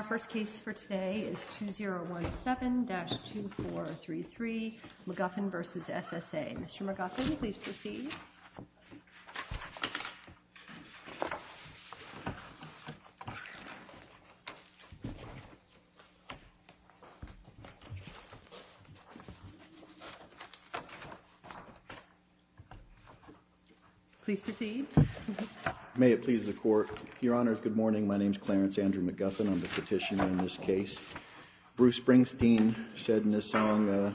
Our first case for today is 2017-2433, McGuffin v. SSA. Mr. McGuffin, please proceed. Please proceed. May it please the Court. Your Honors, good morning. My name is Clarence Andrew McGuffin. I'm the petitioner in this case. Bruce Springsteen said in his song,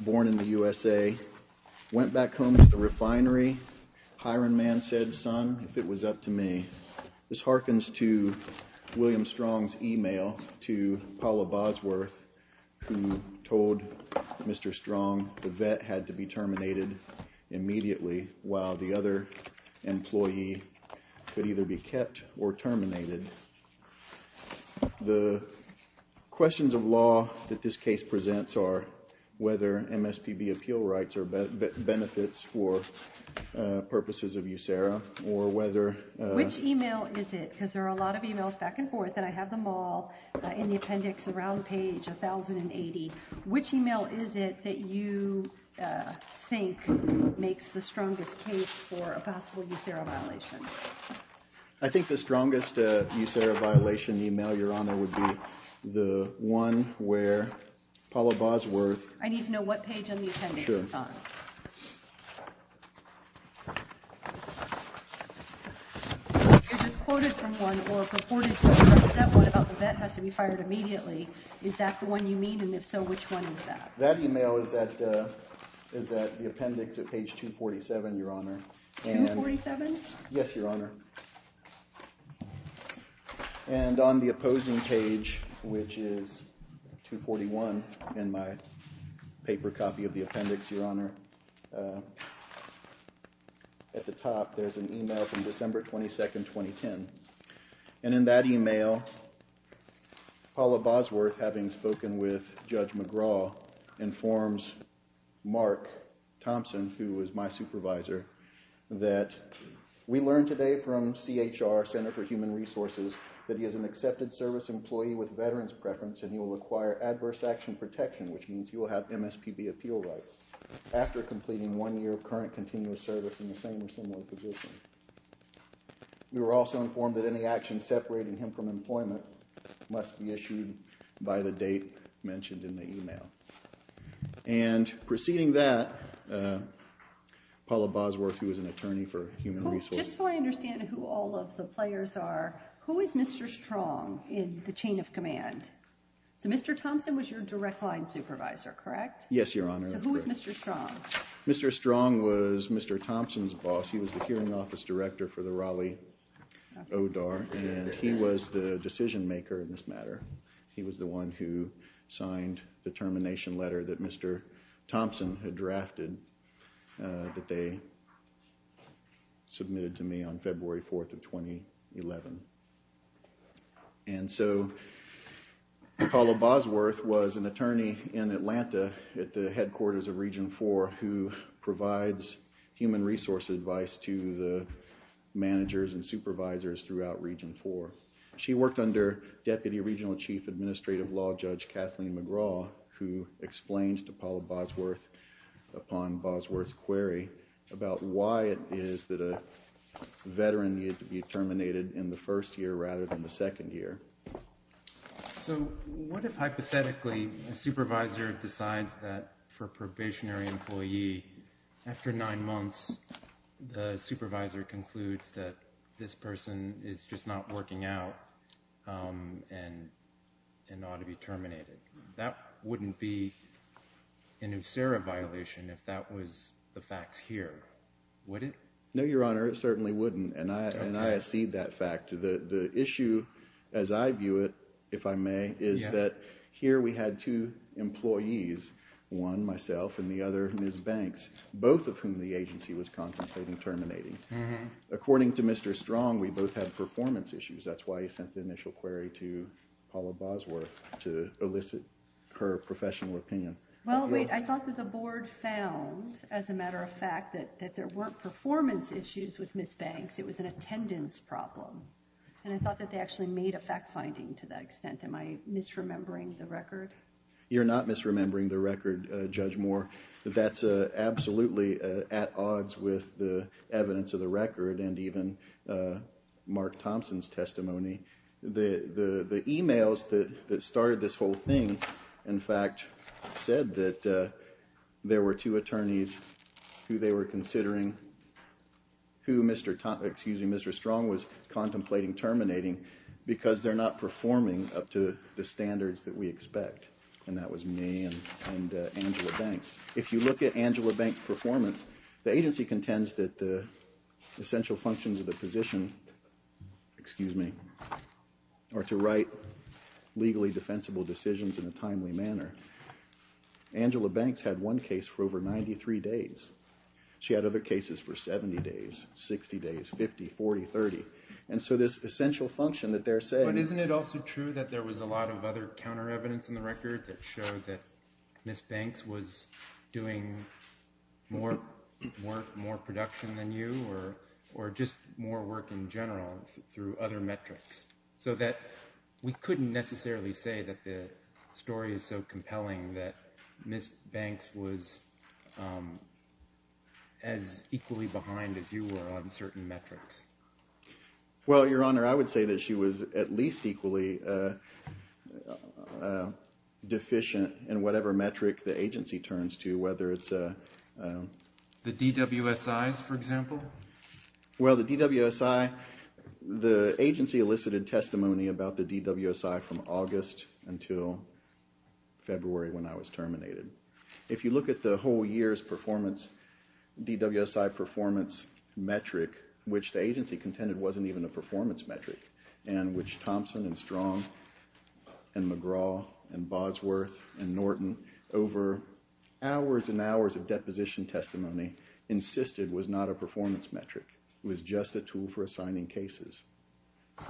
Born in the USA, Went back home to the refinery. Hiron Man said, Son, if it was up to me. This harkens to William Strong's email to Paula Bosworth who told Mr. Strong the vet had to be terminated immediately while the other employee could either be kept or terminated. The questions of law that this case presents are whether MSPB appeal rights are benefits for purposes of USERRA or whether Which email is it? Because there are a lot of emails back and forth and I have them all in the appendix around page 1080. Which email is it that you think makes the strongest case for a possible USERRA violation? I think the strongest USERRA violation email, Your Honor, would be the one where Paula Bosworth I need to know what page on the appendix it's on. If it's quoted from one or purported to be quoted, that one about the vet has to be fired immediately. Is that the one you mean? And if so, which one is that? That email is at the appendix at page 247, Your Honor. 247? Yes, Your Honor. And on the opposing page, which is 241 in my paper copy of the appendix, Your Honor, at the top there's an email from December 22nd, 2010. And in that email, Paula Bosworth, having spoken with Judge McGraw, informs Mark Thompson, who is my supervisor, that we learned today from CHR, Center for Human Resources, that he is an accepted service employee with veteran's preference and he will acquire adverse action protection, which means he will have MSPB appeal rights after completing one year of current continuous service in the same or similar position. We were also informed that any action separating him from employment must be issued by the date mentioned in the email. And preceding that, Paula Bosworth, who is an attorney for human resources Just so I understand who all of the players are, who is Mr. Strong in the chain of command? So Mr. Thompson was your direct line supervisor, correct? Yes, Your Honor. So who is Mr. Strong? Mr. Strong was Mr. Thompson's boss. He was the hearing office director for the Raleigh ODAR and he was the decision maker in this matter. He was the one who signed the termination letter that Mr. Thompson had drafted that they submitted to me on February 4th of 2011. And so Paula Bosworth was an attorney in Atlanta at the headquarters of Region 4 who provides human resources advice to the managers and supervisors throughout Region 4. She worked under Deputy Regional Chief Administrative Law Judge Kathleen McGraw who explained to Paula Bosworth upon Bosworth's query about why it is that a veteran needed to be terminated in the first year rather than the second year. So what if hypothetically a supervisor decides that for a probationary employee, after nine months, the supervisor concludes that this person is just not working out and ought to be terminated. That wouldn't be an USERRA violation if that was the facts here, would it? No, Your Honor, it certainly wouldn't and I accede that fact. The issue as I view it, if I may, is that here we had two employees, one myself and the other Ms. Banks, both of whom the agency was contemplating terminating. According to Mr. Strong, we both had performance issues. That's why he sent the initial query to Paula Bosworth to elicit her professional opinion. Well, wait, I thought that the Board found, as a matter of fact, that there weren't performance issues with Ms. Banks. It was an attendance problem and I thought that they actually made a fact-finding to that extent. Am I misremembering the record? You're not misremembering the record, Judge Moore. That's absolutely at odds with the evidence of the record and even Mark Thompson's testimony. The e-mails that started this whole thing, in fact, said that there were two attorneys who they were considering, who Mr. Strong was contemplating terminating because they're not performing up to the standards that we expect and that was me and Angela Banks. If you look at Angela Banks' performance, the agency contends that the essential functions of the position, excuse me, are to write legally defensible decisions in a timely manner. Angela Banks had one case for over 93 days. She had other cases for 70 days, 60 days, 50, 40, 30, and so this essential function that they're saying But isn't it also true that there was a lot of other counter evidence in the record that showed that Ms. Banks was doing more work, more production than you or just more work in general through other metrics so that we couldn't necessarily say that the story is so compelling that Ms. Banks was as equally behind as you were on certain metrics? Well, Your Honor, I would say that she was at least equally deficient in whatever metric the agency turns to, whether it's The DWSIs, for example? Well, the DWSI, the agency elicited testimony about the DWSI from August until February when I was terminated. If you look at the whole year's DWSI performance metric, which the agency contended wasn't even a performance metric, and which Thompson and Strong and McGraw and Bosworth and Norton over hours and hours of deposition testimony insisted was not a performance metric. It was just a tool for assigning cases.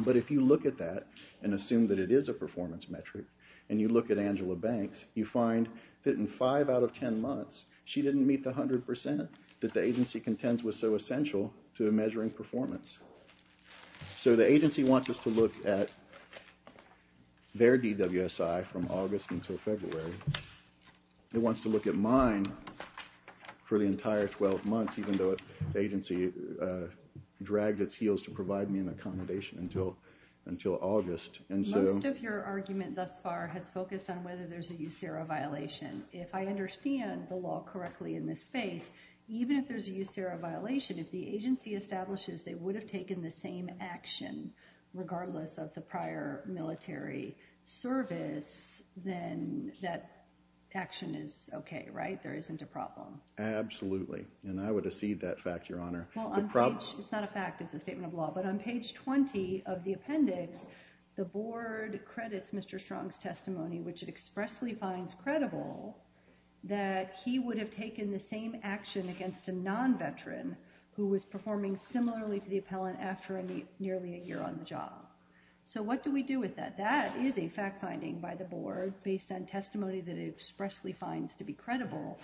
But if you look at that and assume that it is a performance metric, and you look at Angela Banks, you find that in 5 out of 10 months, she didn't meet the 100% that the agency contends was so essential to measuring performance. So the agency wants us to look at their DWSI from August until February. It wants to look at mine for the entire 12 months, even though the agency dragged its heels to provide me an accommodation until August. Most of your argument thus far has focused on whether there's a USERA violation. If I understand the law correctly in this space, even if there's a USERA violation, if the agency establishes they would have taken the same action, regardless of the prior military service, then that action is okay, right? There isn't a problem. Absolutely. And I would accede that fact, Your Honor. It's not a fact. It's a statement of law. But on page 20 of the appendix, the board credits Mr. Strong's testimony, which it expressly finds credible, that he would have taken the same action against a non-veteran who was performing similarly to the appellant after nearly a year on the job. So what do we do with that? That is a fact finding by the board based on testimony that it expressly finds to be credible,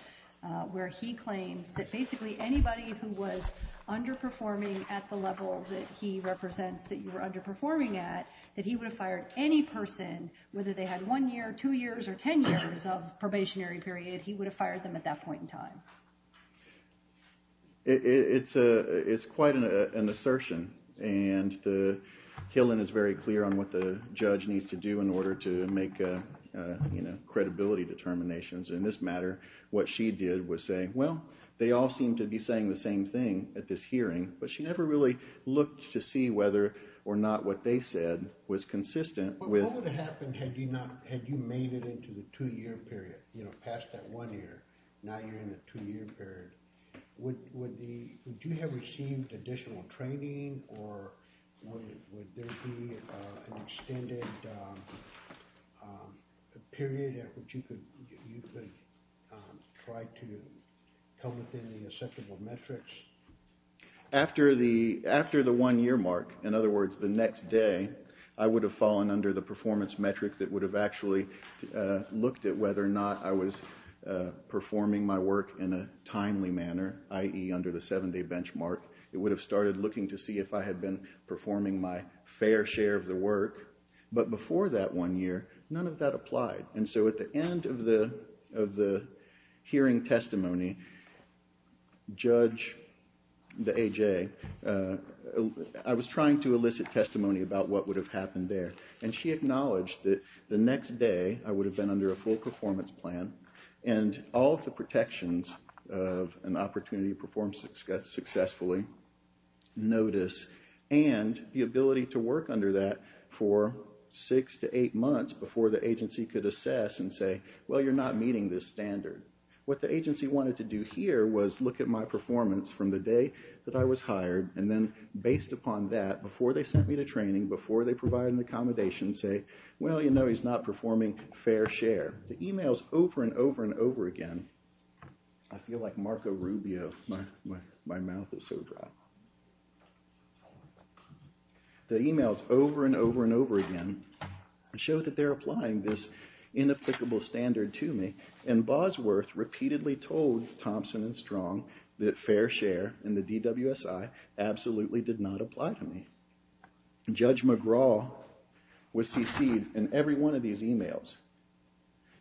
where he claims that basically anybody who was underperforming at the level that he represents that you were underperforming at, that he would have fired any person, whether they had one year, two years, or 10 years of probationary period, he would have fired them at that point in time. It's quite an assertion, and the Hillen is very clear on what the judge needs to do in order to make credibility determinations. In this matter, what she did was say, well, they all seem to be saying the same thing at this hearing, but she never really looked to see whether or not what they said was consistent with... What would have happened had you made it into the two-year period, past that one year? Now you're in the two-year period. Would you have received additional training, or would there be an extended period at which you could try to come within the acceptable metrics? After the one-year mark, in other words, the next day, I would have fallen under the performance metric that would have actually looked at whether or not I was performing my work in a timely manner, i.e. under the seven-day benchmark. It would have started looking to see if I had been performing my fair share of the work. But before that one year, none of that applied, and so at the end of the hearing testimony, Judge, the AJ, I was trying to elicit testimony about what would have happened there, and she acknowledged that the next day I would have been under a full performance plan, and all of the protections of an opportunity to perform successfully, notice, and the ability to work under that for six to eight months before the agency could assess and say, well, you're not meeting this standard. What the agency wanted to do here was look at my performance from the day that I was hired, and then based upon that, before they sent me to training, before they provided an accommodation, say, well, you know he's not performing fair share. The emails over and over and over again, I feel like Marco Rubio, my mouth is so dry. The emails over and over and over again show that they're applying this inapplicable standard to me, and Bosworth repeatedly told Thompson and Strong that fair share in the DWSI absolutely did not apply to me. Judge McGraw was CC'd in every one of these emails,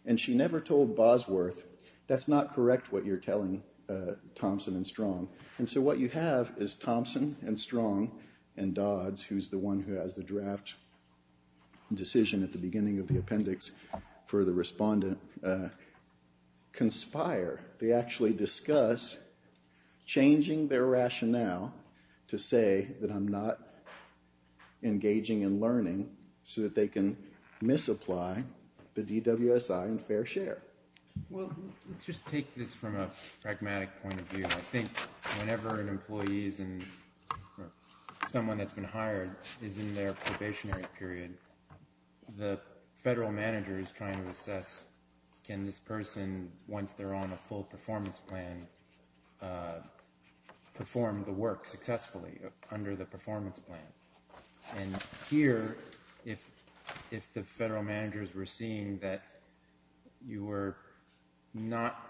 and she never told Bosworth, that's not correct what you're telling Thompson and Strong. And so what you have is Thompson and Strong and Dodds, who's the one who has the draft decision at the beginning of the appendix for the respondent, conspire. They actually discuss changing their rationale to say that I'm not engaging in learning, so that they can misapply the DWSI in fair share. Well, let's just take this from a pragmatic point of view. I think whenever an employee is in, or someone that's been hired is in their probationary period, the federal manager is trying to assess can this person, once they're on a full performance plan, perform the work successfully under the performance plan. And here, if the federal managers were seeing that you were not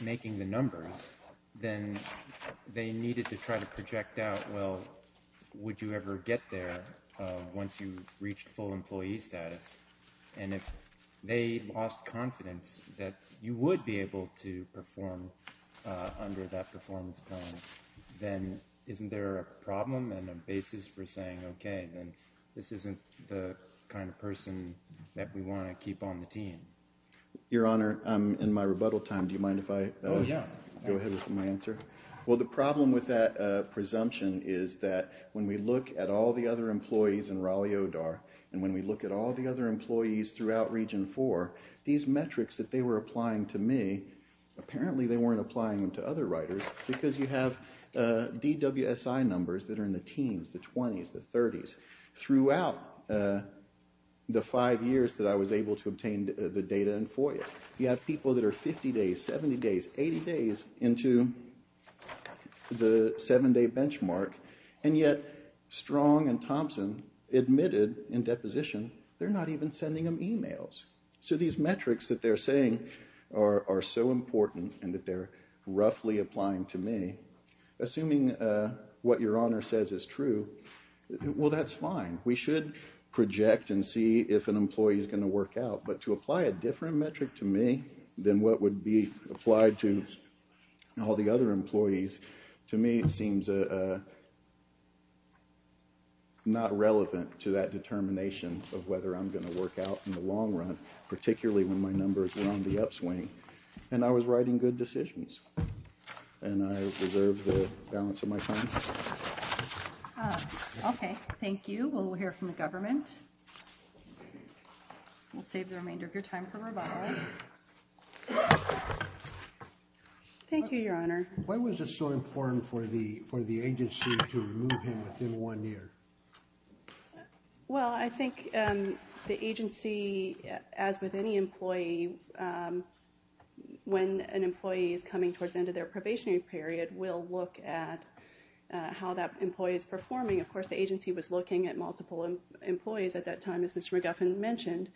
making the numbers, then they needed to try to project out, well, would you ever get there once you reached full employee status? And if they lost confidence that you would be able to perform under that performance plan, then isn't there a problem and a basis for saying, okay, then this isn't the kind of person that we want to keep on the team. Your Honor, I'm in my rebuttal time. Do you mind if I go ahead with my answer? Well, the problem with that presumption is that when we look at all the other employees in Raleigh-Odar, and when we look at all the other employees throughout Region 4, these metrics that they were applying to me, apparently they weren't applying them to other writers, because you have DWSI numbers that are in the teens, the 20s, the 30s. Throughout the five years that I was able to obtain the data in FOIA, you have people that are 50 days, 70 days, 80 days into the seven-day benchmark, and yet Strong and Thompson admitted in deposition they're not even sending them emails. So these metrics that they're saying are so important and that they're roughly applying to me, assuming what Your Honor says is true, well, that's fine. We should project and see if an employee is going to work out, but to apply a different metric to me than what would be applied to all the other employees, to me it seems not relevant to that determination of whether I'm going to work out in the long run, particularly when my numbers are on the upswing, and I was writing good decisions, and I deserve the balance of my time. Okay. Thank you. We'll hear from the government. We'll save the remainder of your time for rebuttal. Thank you, Your Honor. Why was it so important for the agency to remove him within one year? Well, I think the agency, as with any employee, when an employee is coming towards the end of their probationary period, will look at how that employee is performing. Of course, the agency was looking at multiple employees at that time, as Mr. McGuffin mentioned.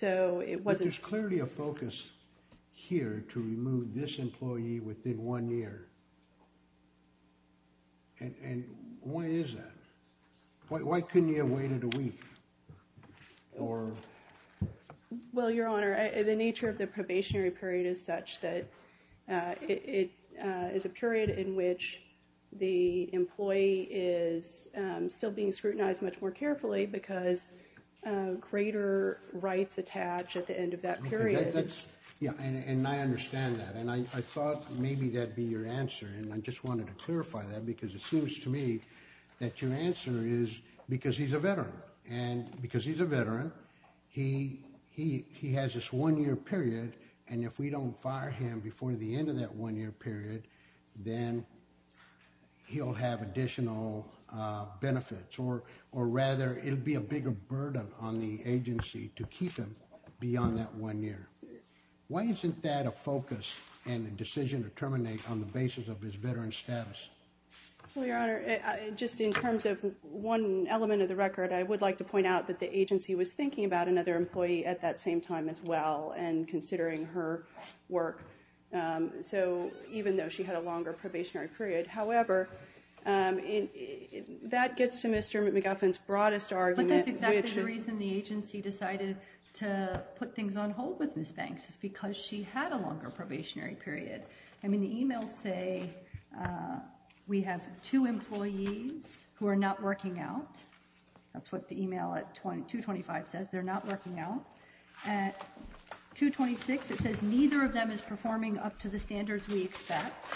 But there's clearly a focus here to remove this employee within one year. And why is that? Why couldn't you have waited a week? Well, Your Honor, the nature of the probationary period is such that it is a period in which the employee is still being scrutinized much more carefully because greater rights attach at the end of that period. Yeah, and I understand that, and I thought maybe that'd be your answer, and I just wanted to clarify that because it seems to me that your answer is because he's a veteran. And because he's a veteran, he has this one-year period, and if we don't fire him before the end of that one-year period, then he'll have additional benefits, or rather it'll be a bigger burden on the agency to keep him beyond that one year. Why isn't that a focus and a decision to terminate on the basis of his veteran status? Well, Your Honor, just in terms of one element of the record, I would like to point out that the agency was thinking about another employee at that same time as well and considering her work, even though she had a longer probationary period. However, that gets to Mr. McLaughlin's broadest argument. But that's exactly the reason the agency decided to put things on hold with Ms. Banks is because she had a longer probationary period. I mean, the e-mails say we have two employees who are not working out. That's what the e-mail at 225 says, they're not working out. At 226, it says neither of them is performing up to the standards we expect.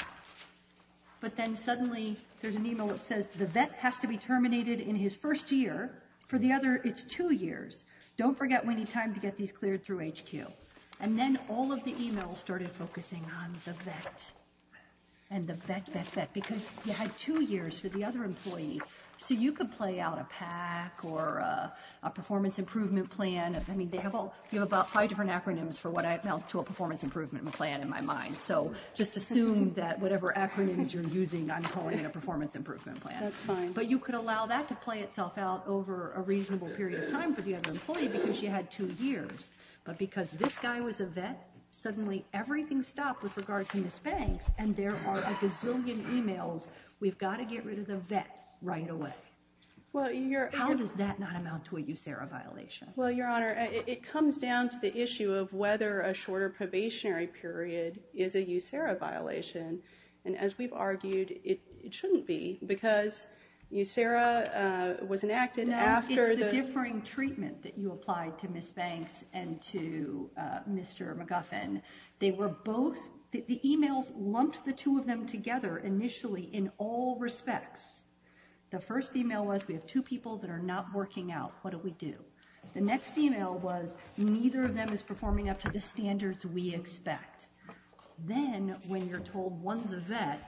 But then suddenly there's an e-mail that says the vet has to be terminated in his first year. For the other, it's two years. Don't forget we need time to get these cleared through HQ. And then all of the e-mails started focusing on the vet and the vet vet vet because you had two years for the other employee. So you could play out a PAC or a performance improvement plan. I mean, they have all about five different acronyms for what I felt to a performance improvement plan in my mind. So just assume that whatever acronyms you're using, I'm calling it a performance improvement plan. But you could allow that to play itself out over a reasonable period of time for the other employee because she had two years. But because this guy was a vet, suddenly everything stopped with regard to Ms. Banks. And there are a gazillion e-mails, we've got to get rid of the vet right away. How does that not amount to a USARA violation? Well, Your Honor, it comes down to the issue of whether a shorter probationary period is a USARA violation. And as we've argued, it shouldn't be because USARA was enacted after the. It's the differing treatment that you applied to Ms. Banks and to Mr. McGuffin. They were both the e-mails lumped the two of them together initially in all respects. The first e-mail was we have two people that are not working out. What do we do? The next e-mail was neither of them is performing up to the standards we expect. Then when you're told one's a vet,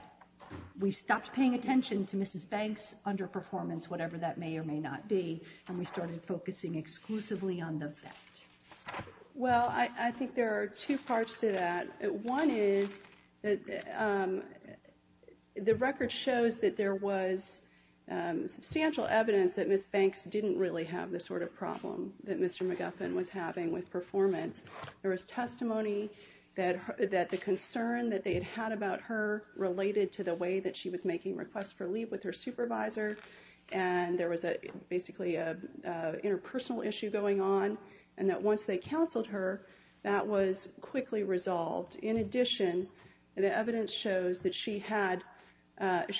we stopped paying attention to Mrs. Banks' underperformance, whatever that may or may not be. And we started focusing exclusively on the vet. Well, I think there are two parts to that. One is that the record shows that there was substantial evidence that Ms. Banks didn't really have the sort of problem that Mr. McGuffin was having with performance. There was testimony that the concern that they had had about her related to the way that she was making requests for leave with her supervisor. And there was basically an interpersonal issue going on. And that once they counseled her, that was quickly resolved. In addition, the evidence shows that she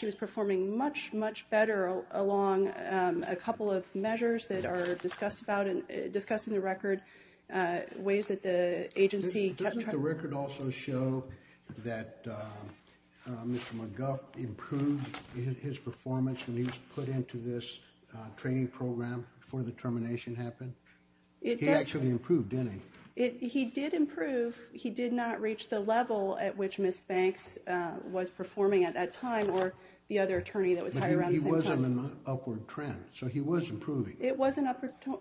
was performing much, much better along a couple of measures that are discussed in the record, ways that the agency kept track. Did the record also show that Mr. McGuff improved his performance when he was put into this training program before the termination happened? It did. He actually improved, didn't he? He did improve. He did not reach the level at which Ms. Banks was performing at that time or the other attorney that was hired around the same time. But he wasn't an upward trend. So he was improving. It was an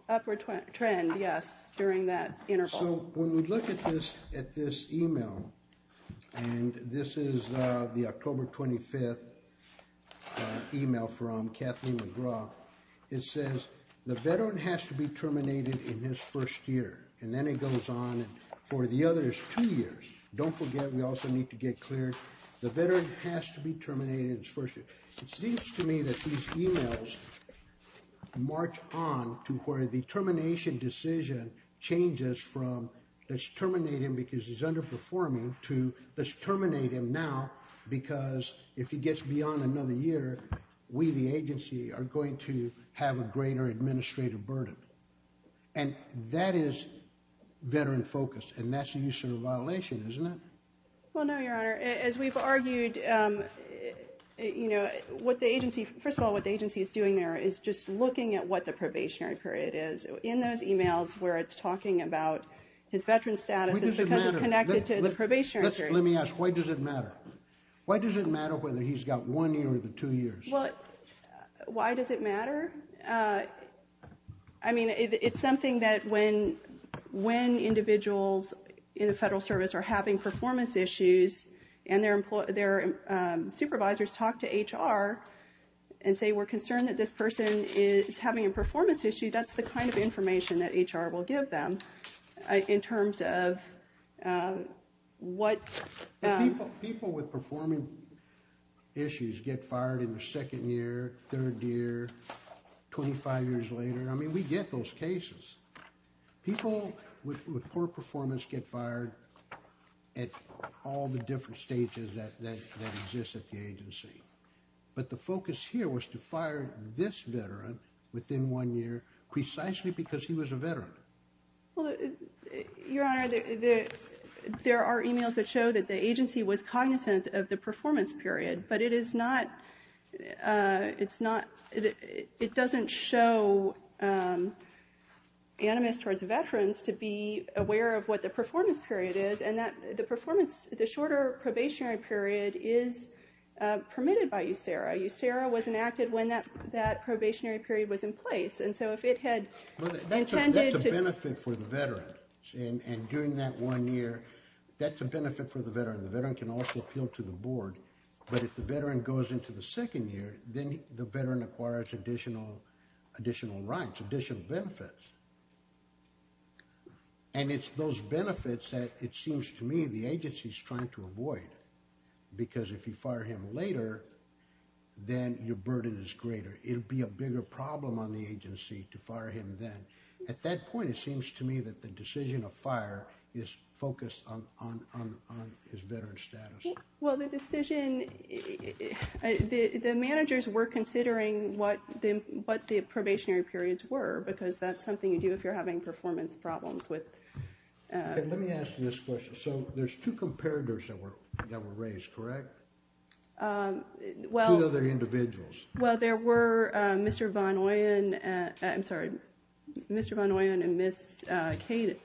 upward trend, yes, during that interval. So when we look at this e-mail, and this is the October 25th e-mail from Kathleen McGraw, it says, The veteran has to be terminated in his first year. And then it goes on for the other two years. Don't forget, we also need to get clear. The veteran has to be terminated in his first year. It seems to me that these e-mails march on to where the termination decision changes from let's terminate him because he's underperforming to let's terminate him now because if he gets beyond another year, we, the agency, are going to have a greater administrative burden. And that is veteran focus, and that's a use of a violation, isn't it? Well, no, Your Honor. As we've argued, you know, what the agency, first of all, what the agency is doing there is just looking at what the probationary period is. In those e-mails where it's talking about his veteran status is because it's connected to the probationary period. Let me ask, why does it matter? Why does it matter whether he's got one year or the two years? Well, why does it matter? I mean, it's something that when individuals in the federal service are having performance issues, and their supervisors talk to HR and say we're concerned that this person is having a performance issue, that's the kind of information that HR will give them in terms of what. People with performing issues get fired in their second year, third year, 25 years later. I mean, we get those cases. People with poor performance get fired at all the different stages that exist at the agency. But the focus here was to fire this veteran within one year precisely because he was a veteran. Well, Your Honor, there are e-mails that show that the agency was cognizant of the performance period, but it is not, it's not, it doesn't show animus towards veterans to be aware of what the performance period is, and that the performance, the shorter probationary period is permitted by USERRA. USERRA was enacted when that probationary period was in place. And so if it had intended to... That's a benefit for the veteran. And during that one year, that's a benefit for the veteran. The veteran can also appeal to the board. But if the veteran goes into the second year, then the veteran acquires additional rights, additional benefits. And it's those benefits that it seems to me the agency is trying to avoid. Because if you fire him later, then your burden is greater. It would be a bigger problem on the agency to fire him then. At that point, it seems to me that the decision of fire is focused on his veteran status. Well, the decision, the managers were considering what the probationary periods were because that's something you do if you're having performance problems with... Let me ask you this question. So there's two comparators that were raised, correct? Two other individuals. Well, there were Mr. Von Oyen... I'm sorry, Mr. Von Oyen and Ms. Cade.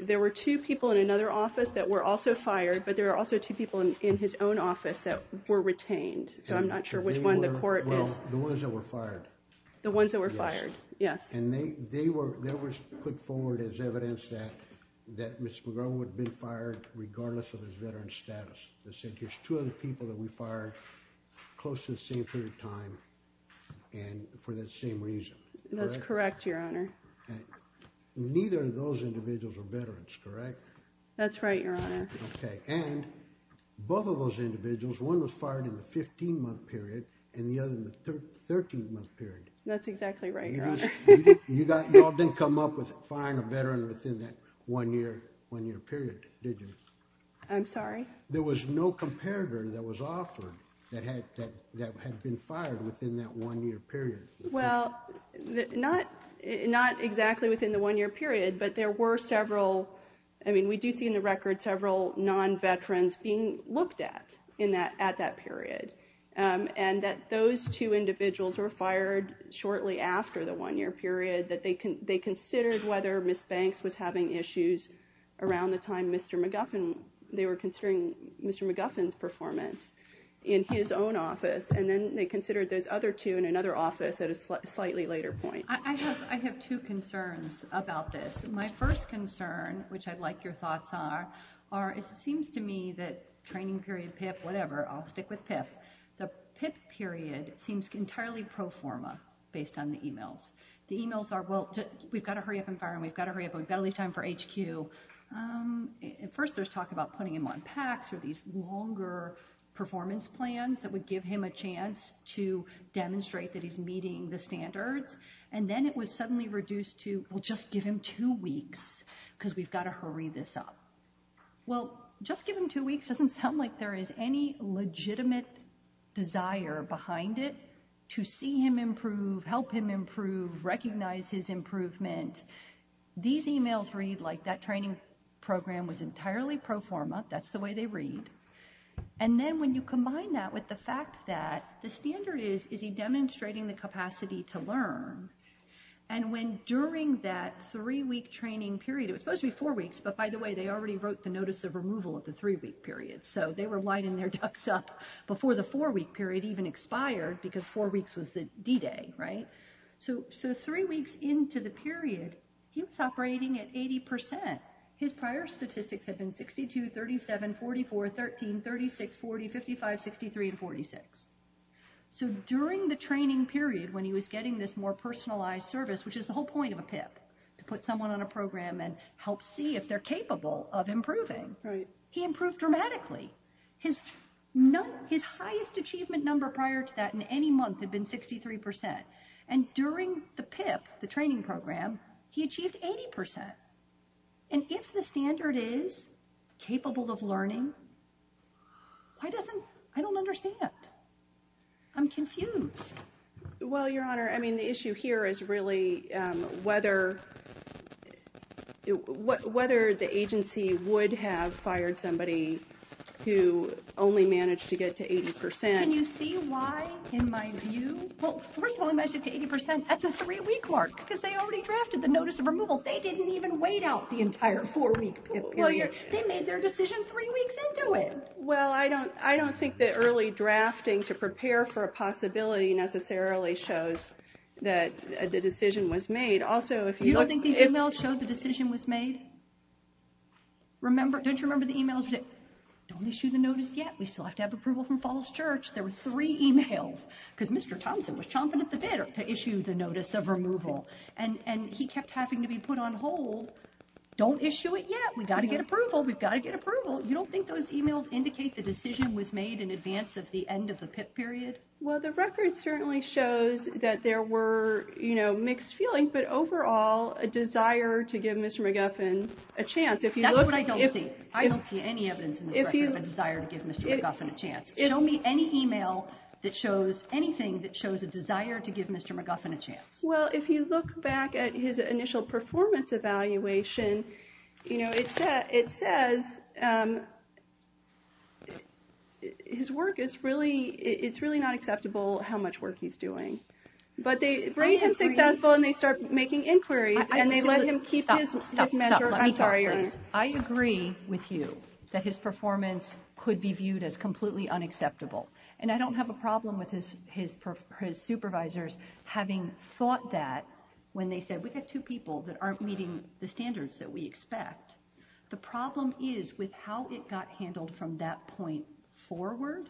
There were two people in another office that were also fired, but there were also two people in his own office that were retained. So I'm not sure which one the court is... Well, the ones that were fired. The ones that were fired, yes. And they were put forward as evidence that Mr. McGowan would have been fired regardless of his veteran status. There's two other people that we fired close to the same period of time and for that same reason. That's correct, Your Honor. Neither of those individuals are veterans, correct? That's right, Your Honor. And both of those individuals, one was fired in the 15-month period and the other in the 13-month period. That's exactly right, Your Honor. You all didn't come up with firing a veteran within that one-year period, did you? I'm sorry? There was no comparator that was offered that had been fired within that one-year period. Well, not exactly within the one-year period, but there were several. I mean, we do see in the record several non-veterans being looked at at that period and that those two individuals were fired shortly after the one-year period, that they considered whether Ms. Banks was having issues around the time Mr. McGuffin, they were considering Mr. McGuffin's performance in his own office, and then they considered those other two in another office at a slightly later point. I have two concerns about this. My first concern, which I'd like your thoughts on, seems to me that training period, PIP, whatever, I'll stick with PIP. The PIP period seems entirely pro forma based on the e-mails. The e-mails are, well, we've got to hurry up and fire him, we've got to hurry up, we've got to leave time for HQ. First, there's talk about putting him on PACs or these longer performance plans that would give him a chance to demonstrate that he's meeting the standards, and then it was suddenly reduced to, well, just give him two weeks because we've got to hurry this up. Well, just give him two weeks doesn't sound like there is any legitimate desire behind it to see him improve, help him improve, recognize his improvement. These e-mails read like that training program was entirely pro forma, that's the way they read. And then when you combine that with the fact that the standard is, is he demonstrating the capacity to learn, and when during that three-week training period, it was supposed to be four weeks, but by the way, they already wrote the notice of removal at the three-week period, so they were winding their ducks up before the four-week period even expired because four weeks was the D-day, right? So three weeks into the period, he was operating at 80%. His prior statistics had been 62, 37, 44, 13, 36, 40, 55, 63, and 46. So during the training period when he was getting this more personalized service, which is the whole point of a PIP, to put someone on a program and help see if they're capable of improving, he improved dramatically. His highest achievement number prior to that in any month had been 63%, and during the PIP, the training program, he achieved 80%. And if the standard is capable of learning, why doesn't, I don't understand. I'm confused. Well, Your Honor, I mean, the issue here is really whether, whether the agency would have fired somebody who only managed to get to 80%. Can you see why, in my view? Well, first of all, he managed to get to 80% at the three-week mark because they already drafted the notice of removal. They didn't even wait out the entire four-week PIP period. They made their decision three weeks into it. Well, I don't think that early drafting to prepare for a possibility necessarily shows that the decision was made. Also, if you look— You don't think these emails showed the decision was made? Don't you remember the emails that said, don't issue the notice yet, we still have to have approval from Falls Church? There were three emails because Mr. Thompson was chomping at the bit to issue the notice of removal, and he kept having to be put on hold. Don't issue it yet. We've got to get approval. We've got to get approval. You don't think those emails indicate the decision was made in advance of the end of the PIP period? Well, the record certainly shows that there were mixed feelings, but overall a desire to give Mr. McGuffin a chance. That's what I don't see. I don't see any evidence in this record of a desire to give Mr. McGuffin a chance. Show me any email that shows anything that shows a desire to give Mr. McGuffin a chance. Well, if you look back at his initial performance evaluation, it says his work is really not acceptable, how much work he's doing. But they bring him successful, and they start making inquiries, and they let him keep his mentor. Stop, stop, stop. Let me talk, please. I agree with you that his performance could be viewed as completely unacceptable, and I don't have a problem with his supervisors having thought that when they said, we've got two people that aren't meeting the standards that we expect. The problem is with how it got handled from that point forward.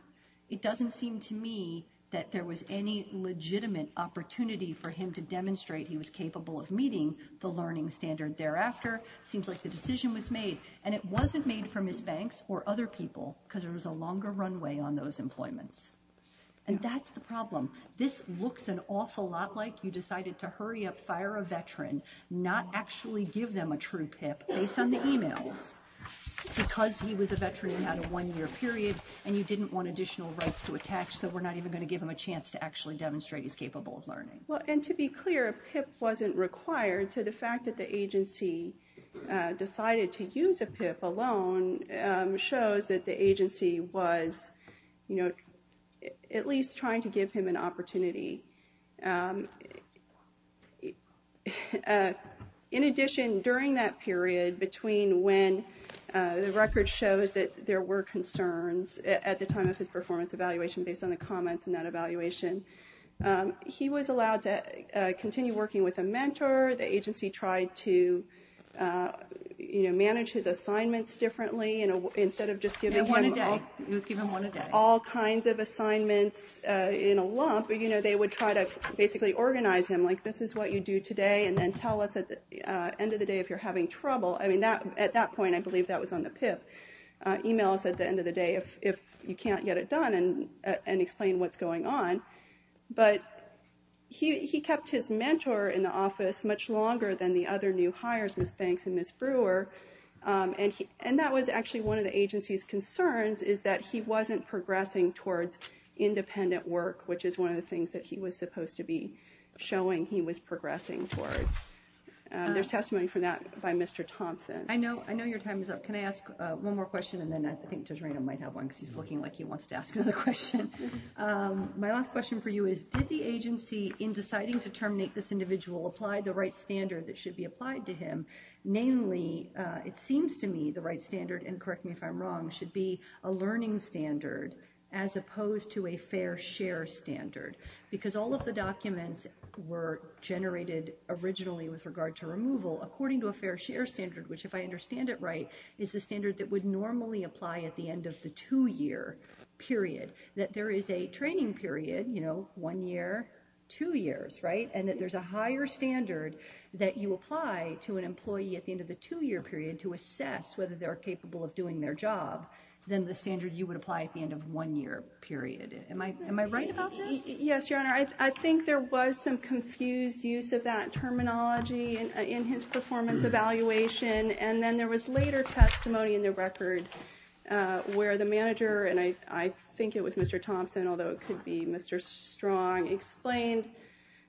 It doesn't seem to me that there was any legitimate opportunity for him to demonstrate he was capable of meeting the learning standard thereafter. It seems like the decision was made, and it wasn't made from his banks or other people because there was a longer runway on those employments. And that's the problem. This looks an awful lot like you decided to hurry up, fire a veteran, not actually give them a true PIP based on the emails because he was a veteran and had a one-year period, and you didn't want additional rights to attach, so we're not even going to give him a chance to actually demonstrate he's capable of learning. Well, and to be clear, a PIP wasn't required, so the fact that the agency decided to use a PIP alone shows that the agency was, you know, at least trying to give him an opportunity. In addition, during that period between when the record shows that there were concerns at the time of his performance evaluation based on the comments in that evaluation, he was allowed to continue working with a mentor. The agency tried to, you know, manage his assignments differently. Instead of just giving him all kinds of assignments in a lump, you know, they would try to basically organize him like this is what you do today and then tell us at the end of the day if you're having trouble. I mean, at that point I believe that was on the PIP. But he kept his mentor in the office much longer than the other new hires, Ms. Banks and Ms. Brewer, and that was actually one of the agency's concerns is that he wasn't progressing towards independent work, which is one of the things that he was supposed to be showing he was progressing towards. There's testimony for that by Mr. Thompson. I know your time is up. Can I ask one more question and then I think Judge Rayna might have one because he's looking like he wants to ask another question. My last question for you is did the agency, in deciding to terminate this individual, apply the right standard that should be applied to him? Namely, it seems to me the right standard, and correct me if I'm wrong, should be a learning standard as opposed to a fair share standard because all of the documents were generated originally with regard to removal according to a fair share standard, which if I understand it right, is the standard that would normally apply at the end of the two-year period, that there is a training period, you know, one year, two years, right, and that there's a higher standard that you apply to an employee at the end of the two-year period to assess whether they're capable of doing their job than the standard you would apply at the end of a one-year period. Am I right about this? Yes, Your Honor. I think there was some confused use of that terminology in his performance evaluation, and then there was later testimony in the record where the manager, and I think it was Mr. Thompson, although it could be Mr. Strong, explained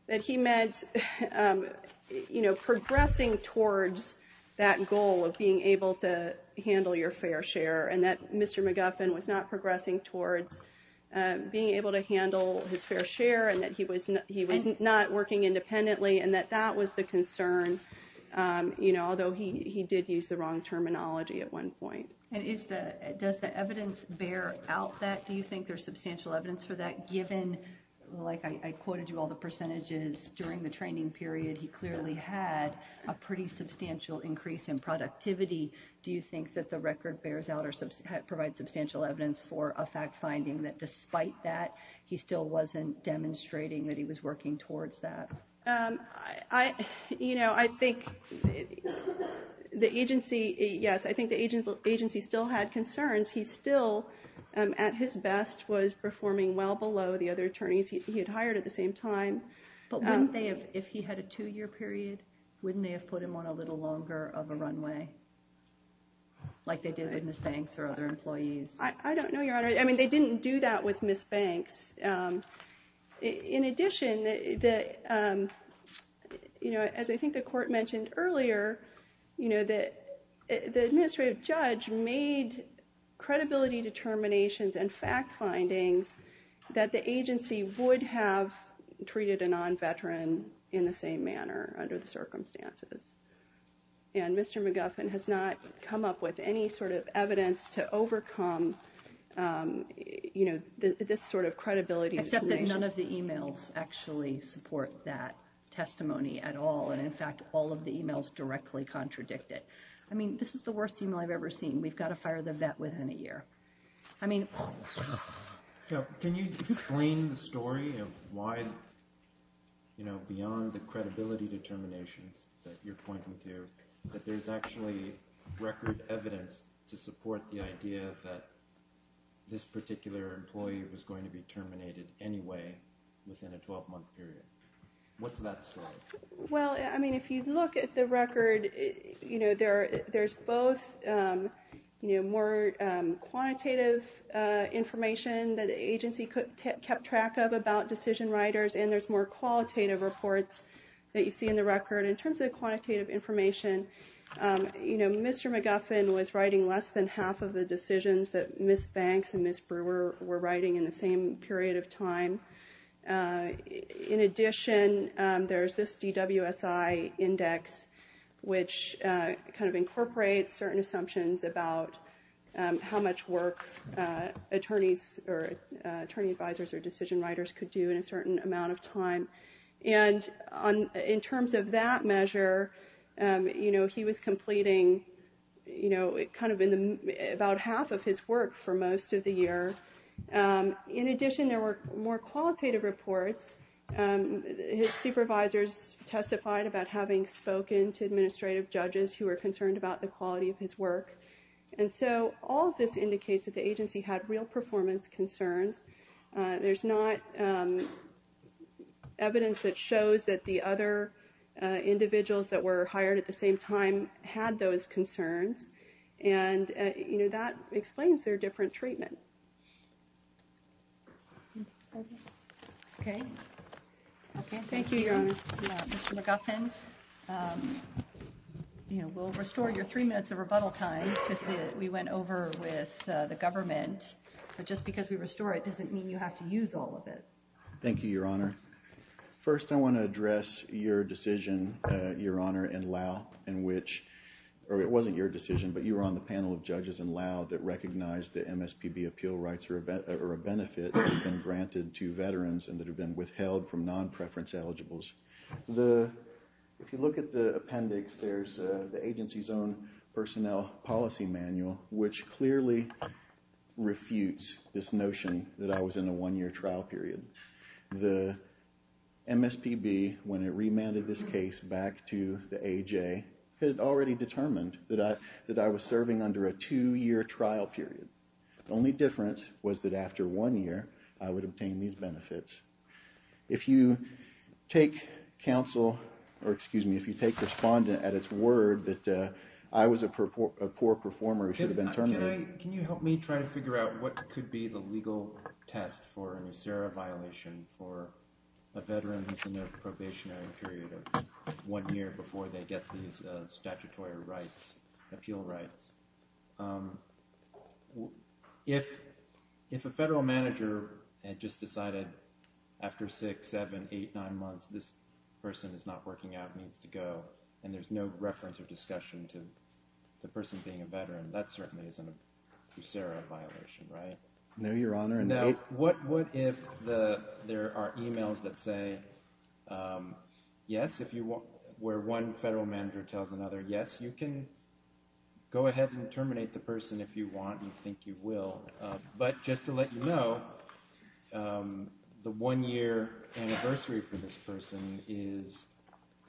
that he meant, you know, progressing towards that goal of being able to handle your fair share and that Mr. McGuffin was not progressing towards being able to handle his fair share and that he was not working independently and that that was the concern, you know, although he did use the wrong terminology at one point. And does the evidence bear out that? Do you think there's substantial evidence for that, given, like I quoted you all the percentages during the training period, he clearly had a pretty substantial increase in productivity? Do you think that the record bears out or provides substantial evidence for a fact finding that despite that he still wasn't demonstrating that he was working towards that? You know, I think the agency, yes, I think the agency still had concerns. He still, at his best, was performing well below the other attorneys he had hired at the same time. But wouldn't they have, if he had a two-year period, wouldn't they have put him on a little longer of a runway, like they did with Ms. Banks or other employees? I don't know, Your Honor. I mean, they didn't do that with Ms. Banks. In addition, you know, as I think the court mentioned earlier, you know, the administrative judge made credibility determinations and fact findings that the agency would have treated a non-veteran in the same manner under the circumstances. And Mr. McGuffin has not come up with any sort of evidence to overcome, you know, this sort of credibility determination. Except that none of the e-mails actually support that testimony at all. And, in fact, all of the e-mails directly contradict it. I mean, this is the worst e-mail I've ever seen. We've got to fire the vet within a year. Can you explain the story of why, you know, beyond the credibility determinations that you're pointing to, that there's actually record evidence to support the idea that this particular employee was going to be terminated anyway within a 12-month period? What's that story? Well, I mean, if you look at the record, you know, there's both, you know, more quantitative information that the agency kept track of about decision writers and there's more qualitative reports that you see in the record. In terms of quantitative information, you know, Mr. McGuffin was writing less than half of the decisions that Ms. Banks and Ms. Brewer were writing in the same period of time. In addition, there's this DWSI index, which kind of incorporates certain assumptions about how much work attorneys or attorney advisors or decision writers could do in a certain amount of time. And in terms of that measure, you know, he was completing, you know, kind of about half of his work for most of the year. In addition, there were more qualitative reports. His supervisors testified about having spoken to administrative judges who were concerned about the quality of his work. And so all of this indicates that the agency had real performance concerns. There's not evidence that shows that the other individuals that were hired at the same time had those concerns. And, you know, that explains their different treatment. Okay. Thank you, Your Honor. Mr. McGuffin, you know, we'll restore your three minutes of rebuttal time because we went over with the government. But just because we restore it doesn't mean you have to use all of it. Thank you, Your Honor. First, I want to address your decision, Your Honor, in Lau in which, or it wasn't your decision, but you were on the panel of judges in Lau that recognized that MSPB appeal rights are a benefit that have been granted to veterans and that have been withheld from non-preference eligibles. If you look at the appendix, there's the agency's own personnel policy manual which clearly refutes this notion that I was in a one-year trial period. The MSPB, when it remanded this case back to the AJ, had already determined that I was serving under a two-year trial period. The only difference was that after one year I would obtain these benefits. If you take counsel, or excuse me, if you take respondent at its word that I was a poor performer who should have been terminated... Can you help me try to figure out what could be the legal test for a NUSERA violation for a veteran who's in a probationary period of one year before they get these statutory rights, appeal rights? If a federal manager had just decided, after six, seven, eight, nine months, this person is not working out and needs to go that certainly isn't a NUSERA violation, right? No, Your Honor. Now, what if there are e-mails that say, yes, where one federal manager tells another, yes, you can go ahead and terminate the person if you want, you think you will, but just to let you know, the one-year anniversary for this person is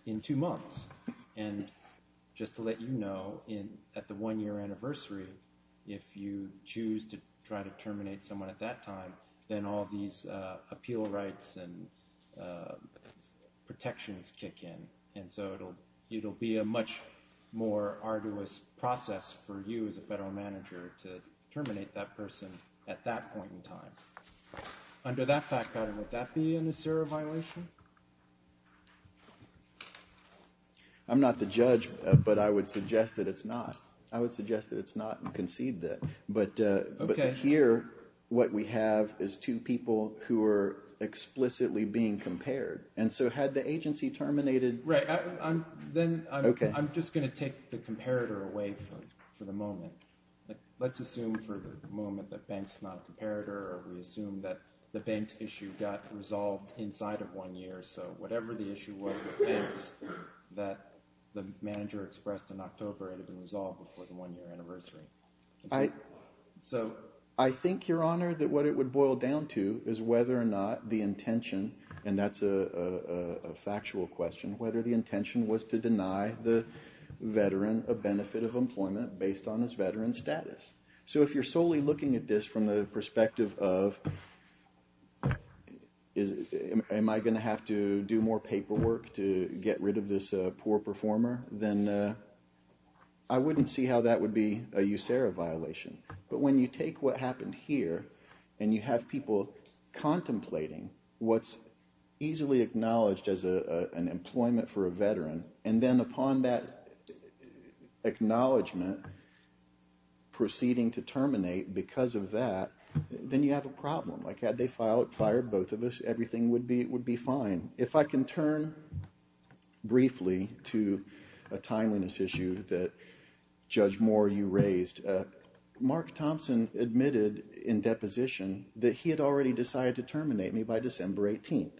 in two months. And just to let you know, at the one-year anniversary, if you choose to try to terminate someone at that time, then all these appeal rights and protections kick in. And so it will be a much more arduous process for you as a federal manager to terminate that person at that point in time. Under that fact pattern, would that be a NUSERA violation? I'm not the judge, but I would suggest that it's not. I would suggest that it's not and concede that. But here, what we have is two people who are explicitly being compared. And so had the agency terminated... Right, then I'm just going to take the comparator away for the moment. Let's assume for the moment that Banks is not a comparator or we assume that the Banks issue got resolved inside of one year. So whatever the issue was with Banks that the manager expressed in October had been resolved before the one-year anniversary. So I think, Your Honor, that what it would boil down to is whether or not the intention, and that's a factual question, whether the intention was to deny the veteran a benefit of employment based on his veteran status. So if you're solely looking at this from the perspective of am I going to have to do more paperwork to get rid of this poor performer, then I wouldn't see how that would be a NUSERA violation. But when you take what happened here and you have people contemplating what's easily acknowledged as an employment for a veteran and then upon that acknowledgement proceeding to terminate because of that, then you have a problem. Like had they fired both of us, everything would be fine. If I can turn briefly to a timeliness issue that Judge Moore, you raised, Mark Thompson admitted in deposition that he had already decided to terminate me by December 18th.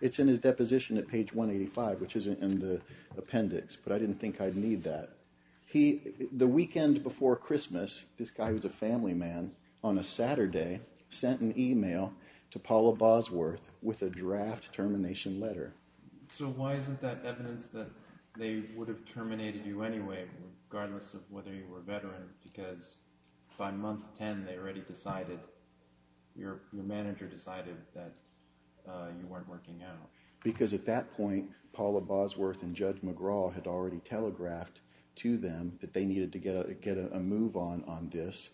It's in his deposition at page 185, which is in the appendix, but I didn't think I'd need that. The weekend before Christmas, this guy was a family man, on a Saturday, sent an email to Paula Bosworth with a draft termination letter. So why isn't that evidence that they would have terminated you anyway, regardless of whether you were a veteran, because by month 10 they already decided, your manager decided that you weren't working out? Because at that point Paula Bosworth and Judge McGraw had already telegraphed to them that they needed to get a move on on this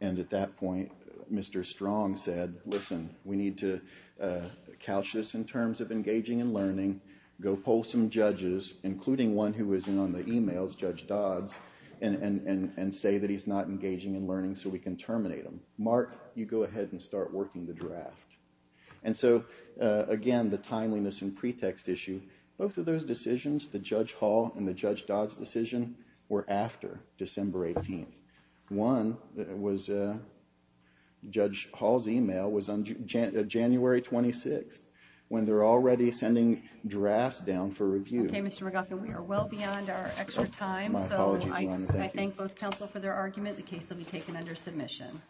and at that point Mr. Strong said, listen, we need to couch this in terms of engaging and learning, go poll some judges, including one who was in on the emails, Judge Dodds, and say that he's not engaging in learning so we can terminate him. Mark, you go ahead and start working the draft. And so, again, the timeliness and pretext issue, both of those decisions, the Judge Hall and the Judge Dodds decision, were after December 18th. One, Judge Hall's email, was on January 26th, when they're already sending drafts down for review. Okay, Mr. McLaughlin, we are well beyond our extra time, so I thank both counsel for their argument. The case will be taken under submission.